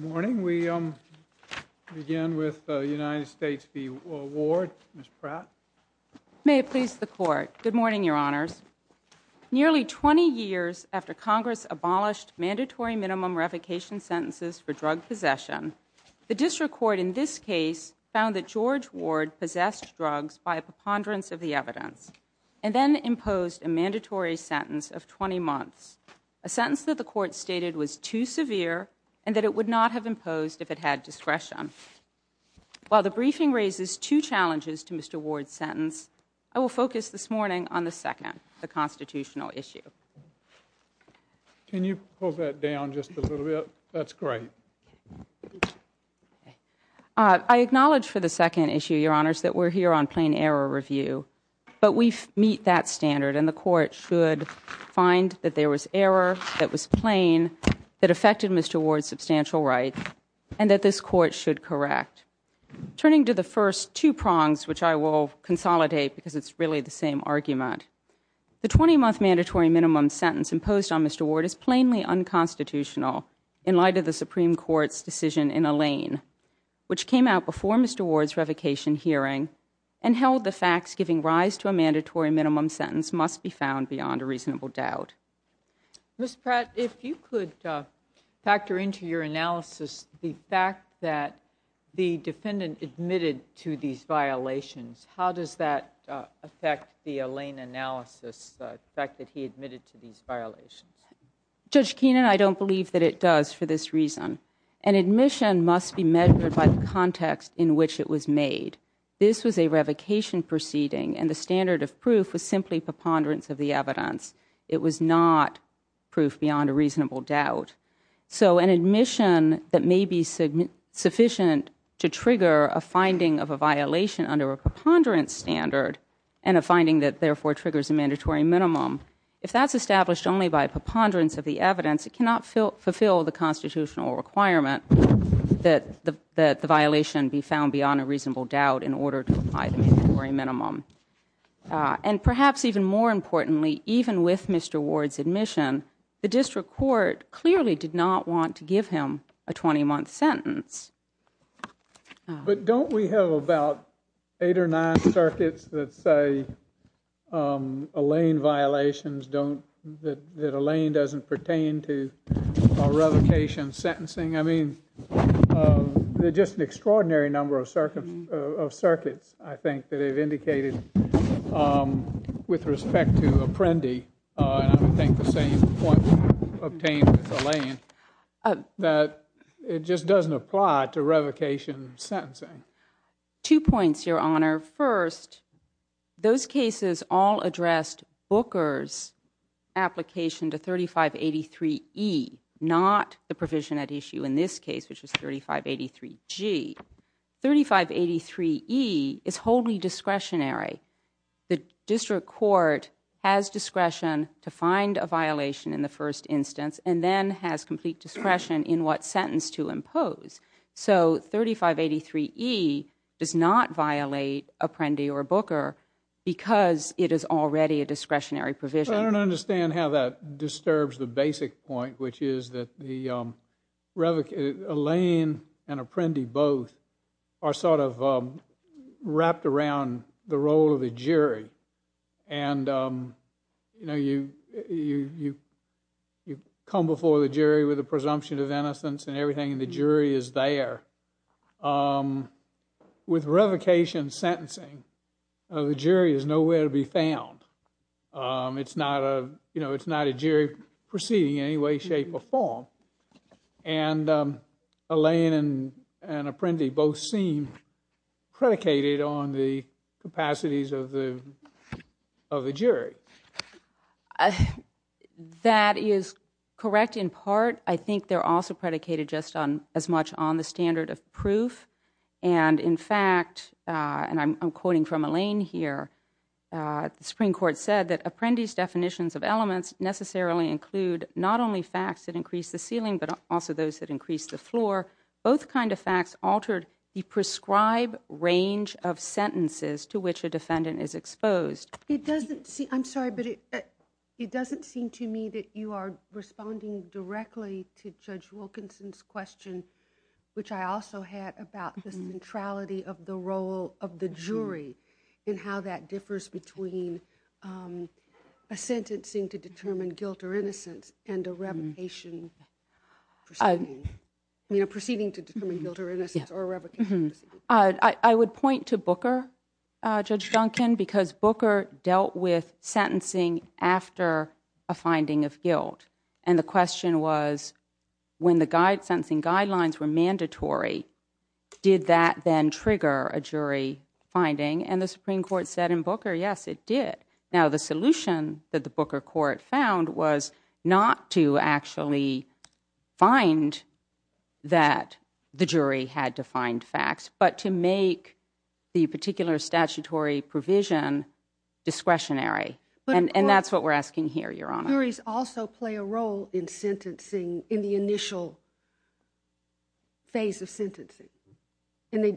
Good morning. We begin with the United States v. Ward. Ms. Pratt. May it please the Court. Good morning, Your Honors. Nearly 20 years after Congress abolished mandatory minimum revocation sentences for drug possession, the district court in this case found that George Ward possessed drugs by a preponderance of the evidence and then imposed a mandatory sentence of 20 months, a sentence that the Court stated was too severe and that it would not have imposed if it had discretion. While the briefing raises two challenges to Mr. Ward's sentence, I will focus this morning on the second, the constitutional issue. Can you hold that down just a little bit? That's great. I acknowledge for the second issue, Your Honors, that we're here on plain error review, but we meet that standard and the Court should find that there was error that was plain that affected Mr. Ward's substantial rights and that this Court should correct. Turning to the first two prongs, which I will consolidate because it's really the same argument, the 20-month mandatory minimum sentence imposed on Mr. Ward is plainly unconstitutional in light of the Supreme Court's decision in Alain, which came out before Mr. Ward's revocation hearing and held the facts giving rise to a mandatory minimum sentence must be found beyond a reasonable doubt. Ms. Pratt, if you could factor into your analysis the fact that the defendant admitted to these violations, how does that affect the Alain analysis, the fact that he admitted to these violations? Judge Keenan, I don't believe that it does for this reason. An admission must be measured by the context in which it was made. This was a revocation proceeding and the standard of proof was simply preponderance of the evidence. It was not proof beyond a reasonable doubt. So an admission that may be sufficient to trigger a finding of a violation under a preponderance standard and a finding that therefore triggers a mandatory minimum, if that's established only by preponderance of the evidence, it cannot fulfill the constitutional requirement that the violation be found beyond a reasonable doubt in order to apply the mandatory minimum. And perhaps even more importantly, even with Mr. Ward's admission, the district court clearly did not want to give him a 20-month sentence. But don't we have about eight or nine circuits that say Alain violations don't, that Alain doesn't pertain to a revocation sentencing? I mean, there's just an extraordinary number of circuits, I think, that have indicated with respect to Apprendi, and I would think the same point was obtained with Alain, that it just doesn't apply to revocation sentencing. Two points, Your Honor. First, those cases all addressed Booker's application to 3583E, not the provision at issue in this case, which is 3583G. 3583E is wholly discretionary. The district court has discretion to find a violation in the first instance and then has complete discretion in what sentence to impose. So 3583E does not violate Apprendi or Booker because it is already a discretionary provision. I don't understand how that disturbs the basic point, which is that Alain and Apprendi both are sort of wrapped around the role of the jury. And, you know, you come before the jury with a presumption of innocence and everything, and the jury is there. With revocation sentencing, the jury is nowhere to be found. It's not a jury proceeding in any way, shape, or form. And Alain and Apprendi both seem predicated on the capacities of the jury. That is correct in part. I think they're also predicated just as much on the standard of proof. And, in fact, and I'm quoting from Alain here, the Supreme Court said that Apprendi's definitions of elements necessarily include not only facts that increase the ceiling but also those that increase the floor. Both kind of facts altered the prescribed range of sentences to which a defendant is exposed. I'm sorry, but it doesn't seem to me that you are responding directly to Judge Wilkinson's question, which I also had about the centrality of the role of the jury and how that differs between a sentencing to determine guilt or innocence and a revocation proceeding. I mean, a proceeding to determine guilt or innocence or a revocation proceeding. I would point to Booker, Judge Duncan, because Booker dealt with sentencing after a finding of guilt. And the question was when the sentencing guidelines were mandatory, did that then trigger a jury finding? And the Supreme Court said in Booker, yes, it did. Now, the solution that the Booker court found was not to actually find that the jury had defined facts, but to make the particular statutory provision discretionary. And that's what we're asking here, Your Honor. Juries also play a role in sentencing in the initial phase of sentencing,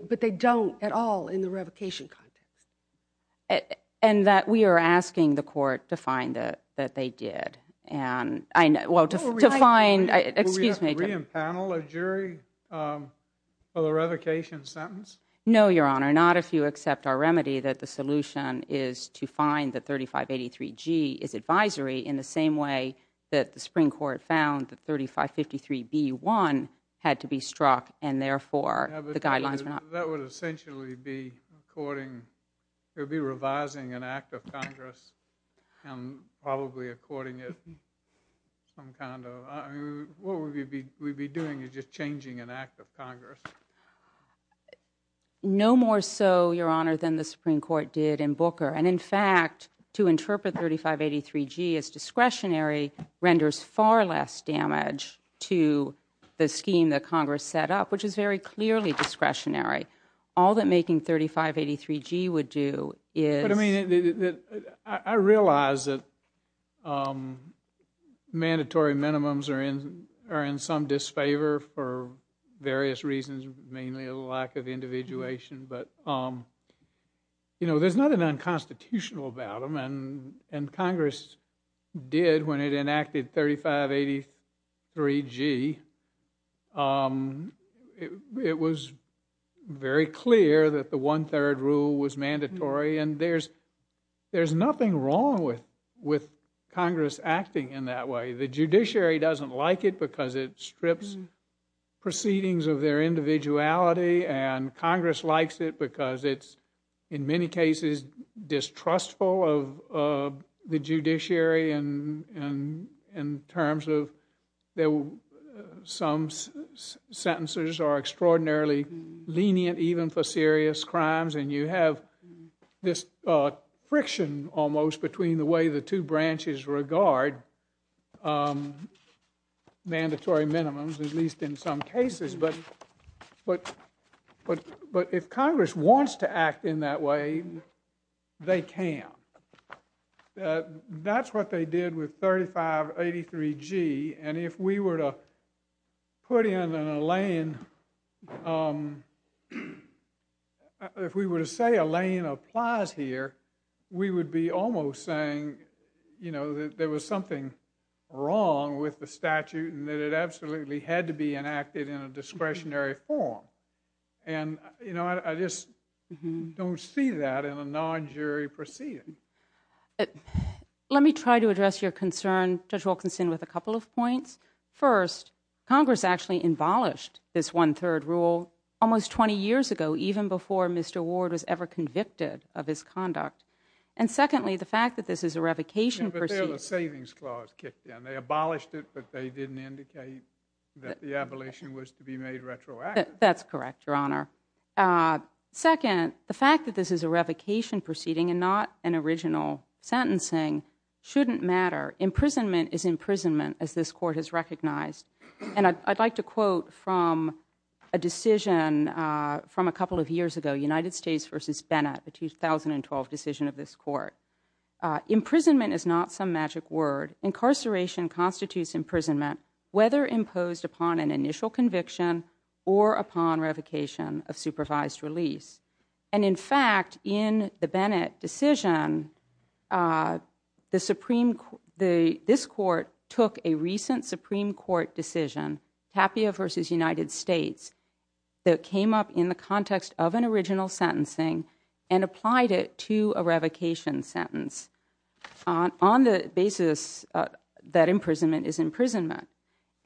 but they don't at all in the revocation context. And that we are asking the court to find that they did. Well, to find, excuse me. Will we have to re-impanel a jury for the revocation sentence? No, Your Honor, not if you accept our remedy that the solution is to find that 3583G is advisory in the same way that the Supreme Court found that 3553B1 had to be struck, and therefore the guidelines were not. That would essentially be courting, it would be revising an act of Congress and probably courting it some kind of. What we'd be doing is just changing an act of Congress. No more so, Your Honor, than the Supreme Court did in Booker. And, in fact, to interpret 3583G as discretionary renders far less damage to the scheme that Congress set up, which is very clearly discretionary. All that making 3583G would do is. I realize that mandatory minimums are in some disfavor for various reasons, mainly a lack of individuation. But, you know, there's nothing unconstitutional about them, and Congress did when it enacted 3583G. It was very clear that the one-third rule was mandatory, and there's nothing wrong with Congress acting in that way. The judiciary doesn't like it because it strips proceedings of their individuality, and Congress likes it because it's in many cases distrustful of the judiciary in terms of some sentences are extraordinarily lenient even for serious crimes, and you have this friction almost between the way the two branches regard mandatory minimums, at least in some cases. But if Congress wants to act in that way, they can. That's what they did with 3583G, and if we were to put in an Elaine, if we were to say Elaine applies here, we would be almost saying that there was something wrong with the statute and that it absolutely had to be enacted in a discretionary form. And, you know, I just don't see that in a non-jury proceeding. Let me try to address your concern, Judge Wilkinson, with a couple of points. First, Congress actually abolished this one-third rule almost 20 years ago, even before Mr. Ward was ever convicted of his conduct. And secondly, the fact that this is a revocation proceeding. The Savings Clause kicked in. They abolished it, but they didn't indicate that the abolition was to be made retroactive. That's correct, Your Honor. Second, the fact that this is a revocation proceeding and not an original sentencing shouldn't matter. Imprisonment is imprisonment, as this Court has recognized. And I'd like to quote from a decision from a couple of years ago, United States v. Bennett, the 2012 decision of this Court. Imprisonment is not some magic word. Incarceration constitutes imprisonment, whether imposed upon an initial conviction or upon revocation of supervised release. And, in fact, in the Bennett decision, this Court took a recent Supreme Court decision, Tapia v. United States, that came up in the context of an original sentencing and applied it to a revocation sentence on the basis that imprisonment is imprisonment.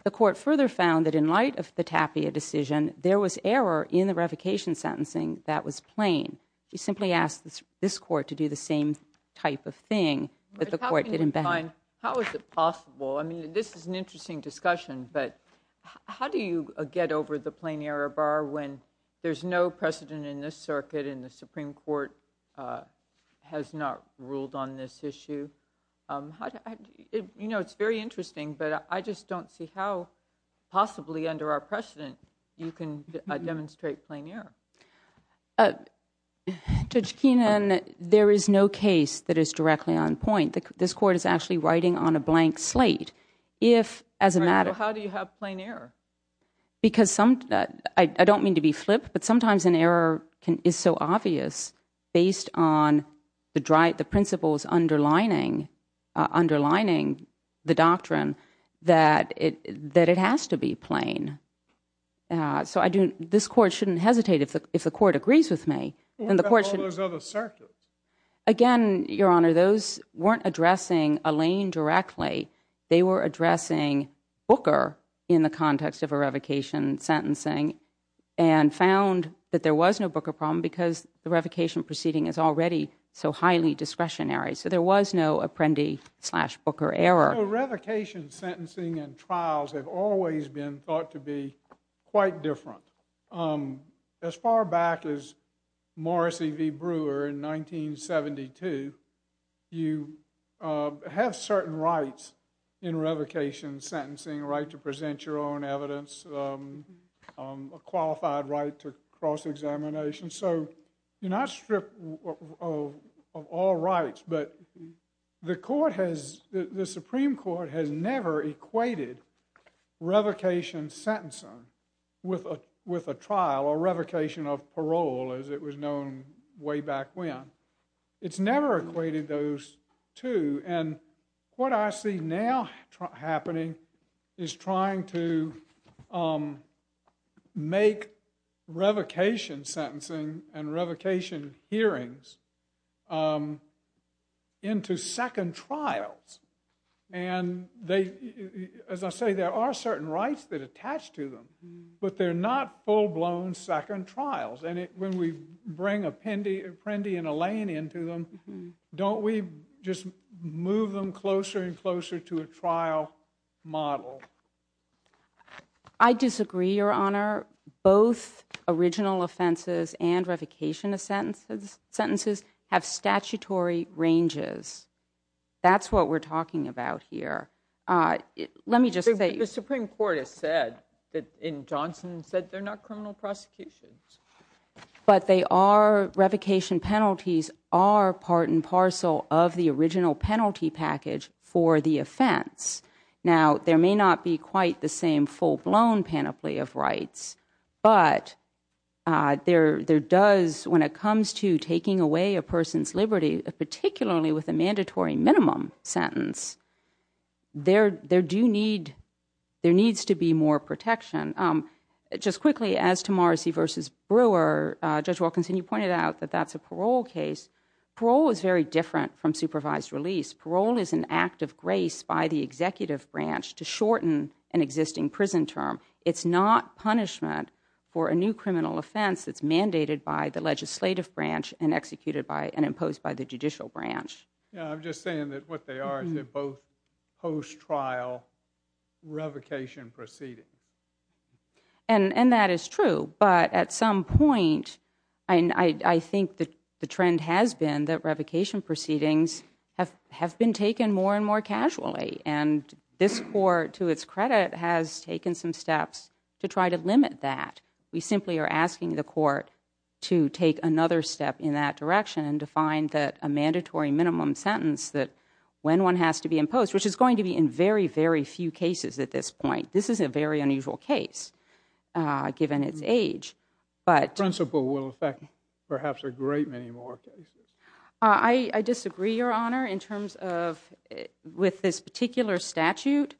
The Court further found that in light of the Tapia decision, there was error in the revocation sentencing that was plain. You simply asked this Court to do the same type of thing, but the Court didn't bend. How is it possible? I mean, this is an interesting discussion, but how do you get over the plain error bar when there's no precedent in this circuit and the Supreme Court has not ruled on this issue? You know, it's very interesting, but I just don't see how possibly under our precedent you can demonstrate plain error. Judge Keenan, there is no case that is directly on point. This Court is actually writing on a blank slate. So how do you have plain error? I don't mean to be flip, but sometimes an error is so obvious based on the principles underlining the doctrine that it has to be plain. So this Court shouldn't hesitate if the Court agrees with me. What about all those other circuits? Again, Your Honor, those weren't addressing Alain directly. They were addressing Booker in the context of a revocation sentencing and found that there was no Booker problem because the revocation proceeding is already so highly discretionary. So there was no Apprendi slash Booker error. So revocation sentencing and trials have always been thought to be quite different. As far back as Morrissey v. Brewer in 1972, you have certain rights in revocation sentencing, a right to present your own evidence, a qualified right to cross-examination. So you're not stripped of all rights, but the Supreme Court has never equated revocation sentencing with a trial or revocation of parole as it was known way back when. It's never equated those two. And what I see now happening is trying to make revocation sentencing and revocation hearings into second trials. And as I say, there are certain rights that attach to them, but they're not full-blown second trials. And when we bring Apprendi and Alain into them, don't we just move them closer and closer to a trial model? I disagree, Your Honor. Both original offenses and revocation of sentences have statutory ranges. That's what we're talking about here. Let me just say... The Supreme Court has said, in Johnson, said they're not criminal prosecutions. But they are, revocation penalties are part and parcel of the original penalty package for the offense. Now, there may not be quite the same full-blown panoply of rights, but there does, when it comes to taking away a person's liberty, particularly with a mandatory minimum sentence, there needs to be more protection. Just quickly, as to Morrissey v. Brewer, Judge Wilkinson, you pointed out that that's a parole case. Parole is very different from supervised release. Parole is an act of grace by the executive branch to shorten an existing prison term. It's not punishment for a new criminal offense that's mandated by the legislative branch and imposed by the judicial branch. Yeah, I'm just saying that what they are, is they're both post-trial revocation proceedings. And that is true. But at some point, I think the trend has been that revocation proceedings have been taken more and more casually. And this court, to its credit, has taken some steps to try to limit that. We simply are asking the court to take another step in that direction and to find that a mandatory minimum sentence, that when one has to be imposed, which is going to be in very, very few cases at this point. This is a very unusual case, given its age. The principle will affect perhaps a great many more cases. I disagree, Your Honor, in terms of, with this particular statute,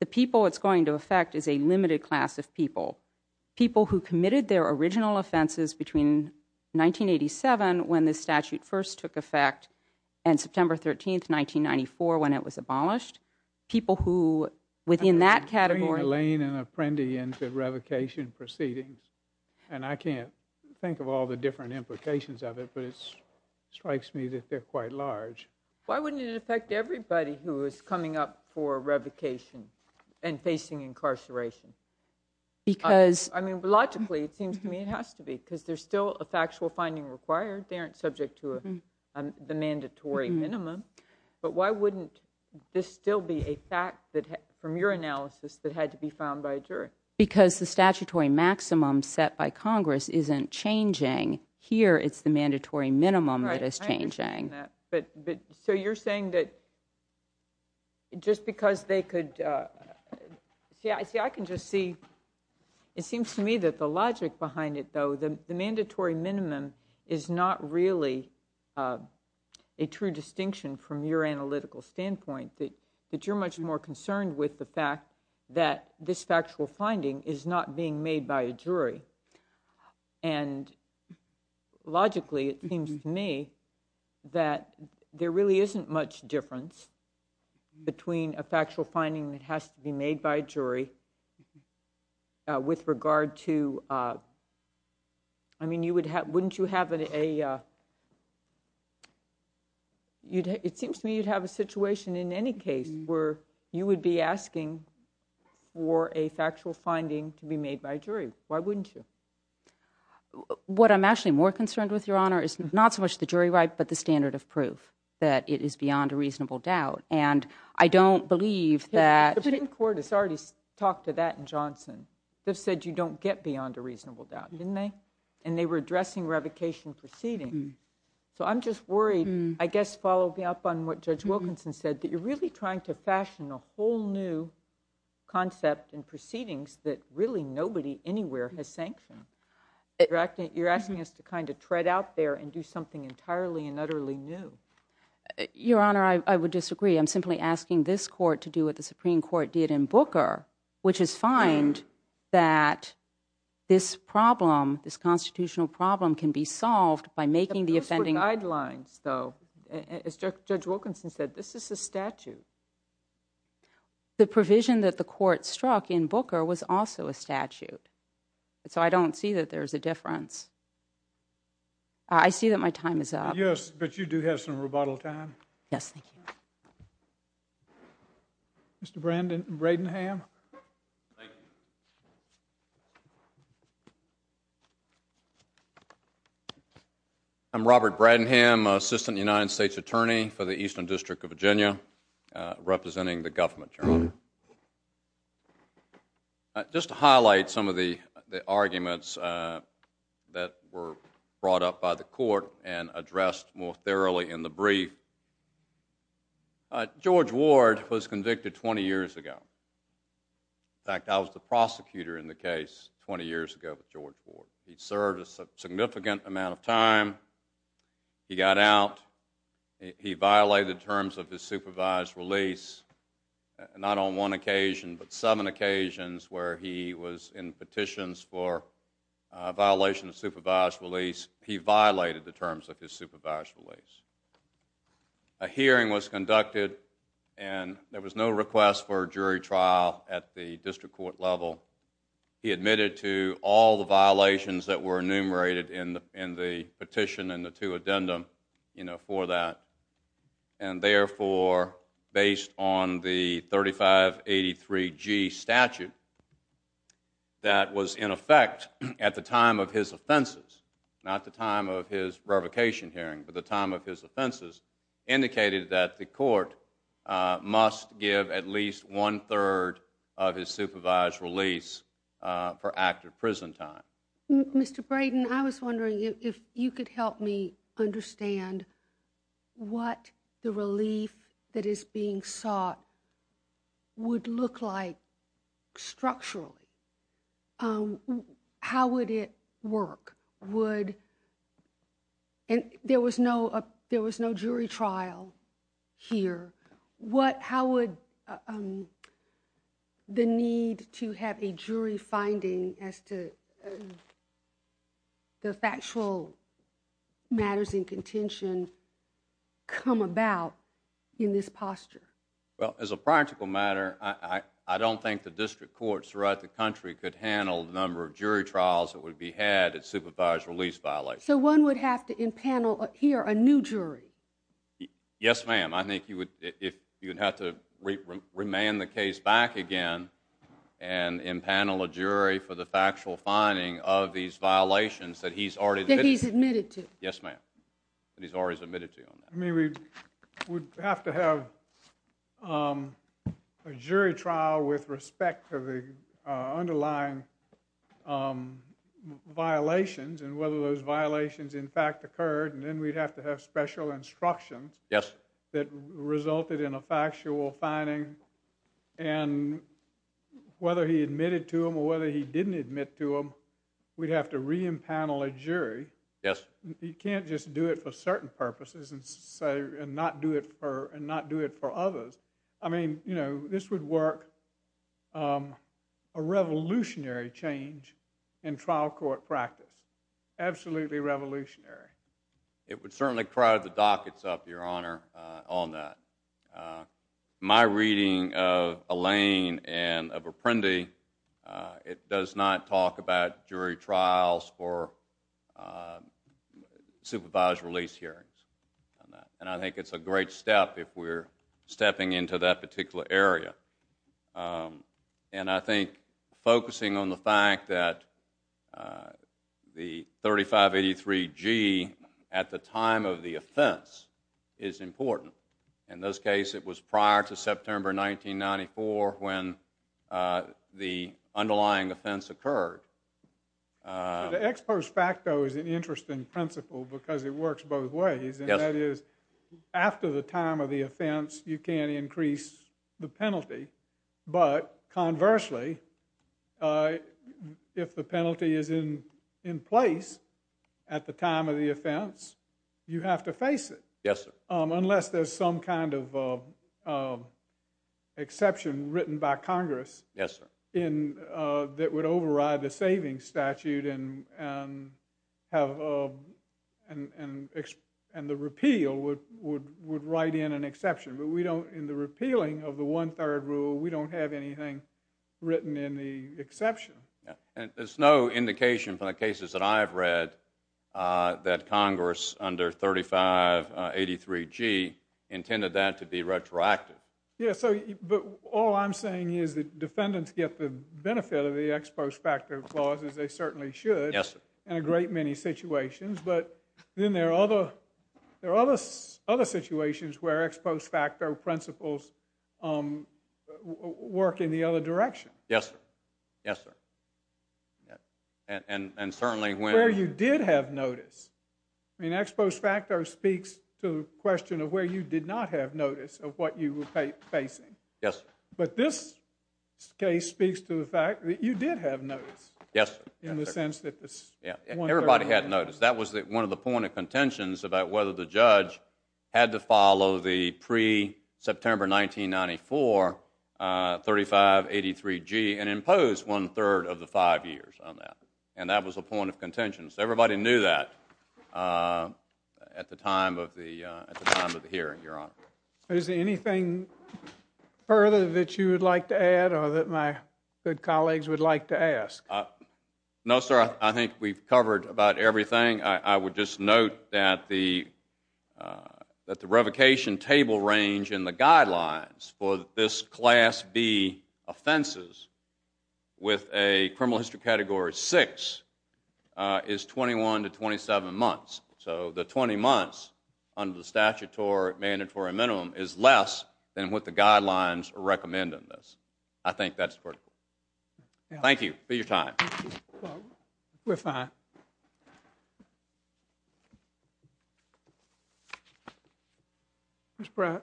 the people it's going to affect is a limited class of people. People who committed their original offenses between 1987, when this statute first took effect, and September 13, 1994, when it was abolished. People who, within that category... I'm bringing Elaine and Apprendi into revocation proceedings, and I can't think of all the different implications of it, but it strikes me that they're quite large. Why wouldn't it affect everybody who is coming up for revocation and facing incarceration? Because... I mean, logically, it seems to me it has to be, because there's still a factual finding required. They aren't subject to the mandatory minimum. But why wouldn't this still be a fact from your analysis that had to be found by a jury? Because the statutory maximum set by Congress isn't changing. Here, it's the mandatory minimum that is changing. Right, I understand that. But so you're saying that just because they could... See, I can just see... It seems to me that the logic behind it, though, the mandatory minimum is not really a true distinction from your analytical standpoint, that you're much more concerned with the fact that this factual finding is not being made by a jury. And logically, it seems to me that there really isn't much difference between a factual finding that has to be made by a jury with regard to... I mean, wouldn't you have a... It seems to me you'd have a situation in any case where you would be asking for a factual finding to be made by a jury. Why wouldn't you? What I'm actually more concerned with, Your Honor, is not so much the jury right, but the standard of proof, that it is beyond a reasonable doubt. And I don't believe that... The Supreme Court has already talked to that in Johnson. They've said you don't get beyond a reasonable doubt, didn't they? And they were addressing revocation proceedings. So I'm just worried, I guess, following up on what Judge Wilkinson said, that you're really trying to fashion a whole new concept in proceedings that really nobody anywhere has sanctioned. You're asking us to kind of tread out there and do something entirely and utterly new. Your Honor, I would disagree. I'm simply asking this court to do what the Supreme Court did in Booker, which is find that this problem, this constitutional problem, can be solved by making the offending... But those were guidelines, though. As Judge Wilkinson said, this is a statute. The provision that the court struck in Booker was also a statute. So I don't see that there's a difference. I see that my time is up. Yes, but you do have some rebuttal time. Yes, thank you. Mr. Bradenham. Thank you. I'm Robert Bradenham, Assistant United States Attorney for the Eastern District of Virginia, representing the government, Your Honor. Just to highlight some of the arguments that were brought up by the court and addressed more thoroughly in the brief, George Ward was convicted 20 years ago. In fact, I was the prosecutor in the case 20 years ago with George Ward. He served a significant amount of time. He got out. He violated terms of his supervised release, not on one occasion, but seven occasions, where he was in petitions for violation of supervised release. He violated the terms of his supervised release. A hearing was conducted, and there was no request for a jury trial at the district court level. He admitted to all the violations that were enumerated in the petition and the two addendum for that, and therefore, based on the 3583G statute that was in effect at the time of his offenses, not the time of his revocation hearing, but the time of his offenses, indicated that the court must give at least one-third of his supervised release for active prison time. Mr. Braden, I was wondering if you could help me understand what the relief that is being sought would look like structurally. How would it work? There was no jury trial here. How would the need to have a jury finding as to the factual matters in contention come about in this posture? Well, as a practical matter, I don't think the district courts throughout the country could handle the number of jury trials that would be had at supervised release violations. So one would have to empanel here a new jury? Yes, ma'am. I think you would have to remand the case back again and empanel a jury for the factual finding of these violations that he's already admitted to. Yes, ma'am. That he's already admitted to. I mean, we would have to have a jury trial with respect to the underlying violations and whether those violations in fact occurred, and then we'd have to have special instructions that resulted in a factual finding. And whether he admitted to them or whether he didn't admit to them, we'd have to re-empanel a jury. You can't just do it for certain purposes and not do it for others. I mean, this would work a revolutionary change in trial court practice. Absolutely revolutionary. It would certainly crowd the dockets up, Your Honor, on that. My reading of Elaine and of Apprendi, it does not talk about jury trials for supervised release hearings. And I think it's a great step if we're stepping into that particular area. And I think focusing on the fact that the 3583G at the time of the offense is important. In this case, it was prior to September 1994 when the underlying offense occurred. The ex post facto is an interesting principle because it works both ways. And that is, after the time of the offense, you can't increase the penalty. But conversely, if the penalty is in place at the time of the offense, you have to face it. Unless there's some kind of exception written by Congress that would override the savings statute and the repeal would write in an exception. But in the repealing of the one-third rule, we don't have anything written in the exception. There's no indication from the cases that I've read that Congress under 3583G intended that to be retroactive. But all I'm saying is that defendants get the benefit of the ex post facto clause as they certainly should in a great many situations. But then there are other situations where ex post facto principles work in the other direction. Yes, sir. And certainly when... Where you did have notice. Ex post facto speaks to the question of where you did not have notice of what you were facing. Yes. But this case speaks to the fact that you did have notice. Yes, sir. In the sense that this one-third rule... Everybody had notice. That was one of the point of contentions about whether the judge had to follow the pre-September 1994 3583G and impose one-third of the five years on that. And that was a point of contention. So everybody knew that at the time of the hearing, Your Honor. Is there anything further that you would like to add or that my good colleagues would like to ask? No, sir. I think we've covered about everything. I would just note that the revocation table range in the guidelines for this Class B offenses with a criminal history category 6 is 21 to 27 months. So the 20 months under the statutory mandatory minimum is less than what the guidelines recommend in this. I think that's critical. Thank you for your time. We're fine. Ms. Pratt.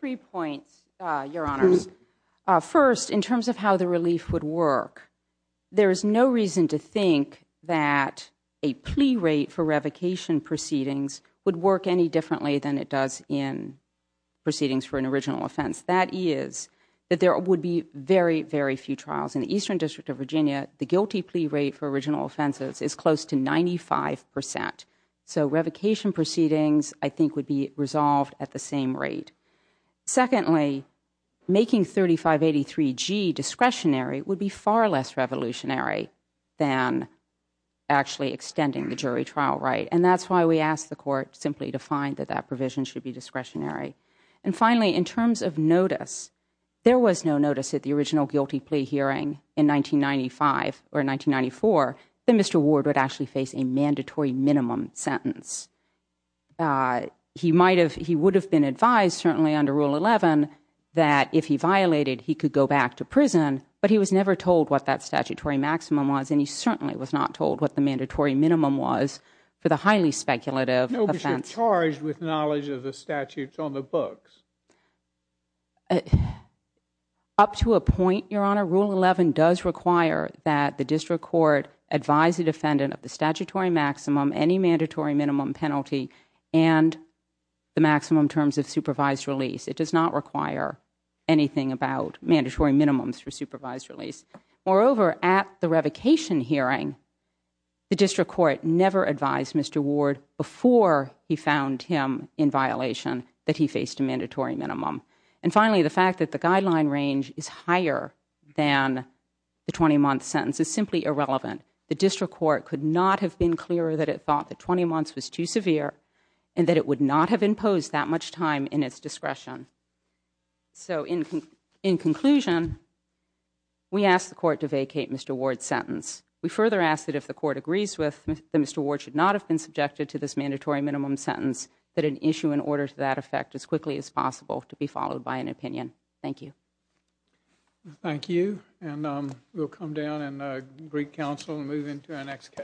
Three points, Your Honors. First, in terms of how the relief would work, there is no reason to think that a plea rate for revocation proceedings would work any differently than it does in proceedings for an original offense. That is that there would be very, very few trials. In the Eastern District of Virginia, the guilty plea rate for original offenses is close to 95%. So revocation proceedings, I think, would be resolved at the same rate. Secondly, making 3583G discretionary would be far less revolutionary than actually extending the jury trial right. And that's why we asked the Court simply to find that that provision should be discretionary. And finally, in terms of notice, there was no notice at the original guilty plea hearing in 1995 or 1994 that Mr. Ward would actually face a mandatory minimum sentence. He would have been advised, certainly under Rule 11, that if he violated, he could go back to prison, but he was never told what that statutory maximum was, and he certainly was not told what the mandatory minimum was for the highly speculative offense. No, because you're charged with knowledge of the statutes on the books. Up to a point, Your Honor, Rule 11 does require that the District Court advise the defendant of the statutory maximum, any mandatory minimum penalty, and the maximum terms of supervised release. It does not require anything about mandatory minimums for supervised release. Moreover, at the revocation hearing, the District Court never advised Mr. Ward before he found him in violation that he faced a mandatory minimum. And finally, the fact that the guideline range is higher than the 20-month sentence is simply irrelevant. The District Court could not have been clearer that it thought that 20 months was too severe and that it would not have imposed that much time in its discretion. So, in conclusion, we ask the Court to vacate Mr. Ward's sentence. We further ask that if the Court agrees with that Mr. Ward should not have been subjected to this mandatory minimum sentence, that an issue in order to that effect as quickly as possible to be followed by an opinion. Thank you. Thank you. And we'll come down and greet counsel and move into our next case.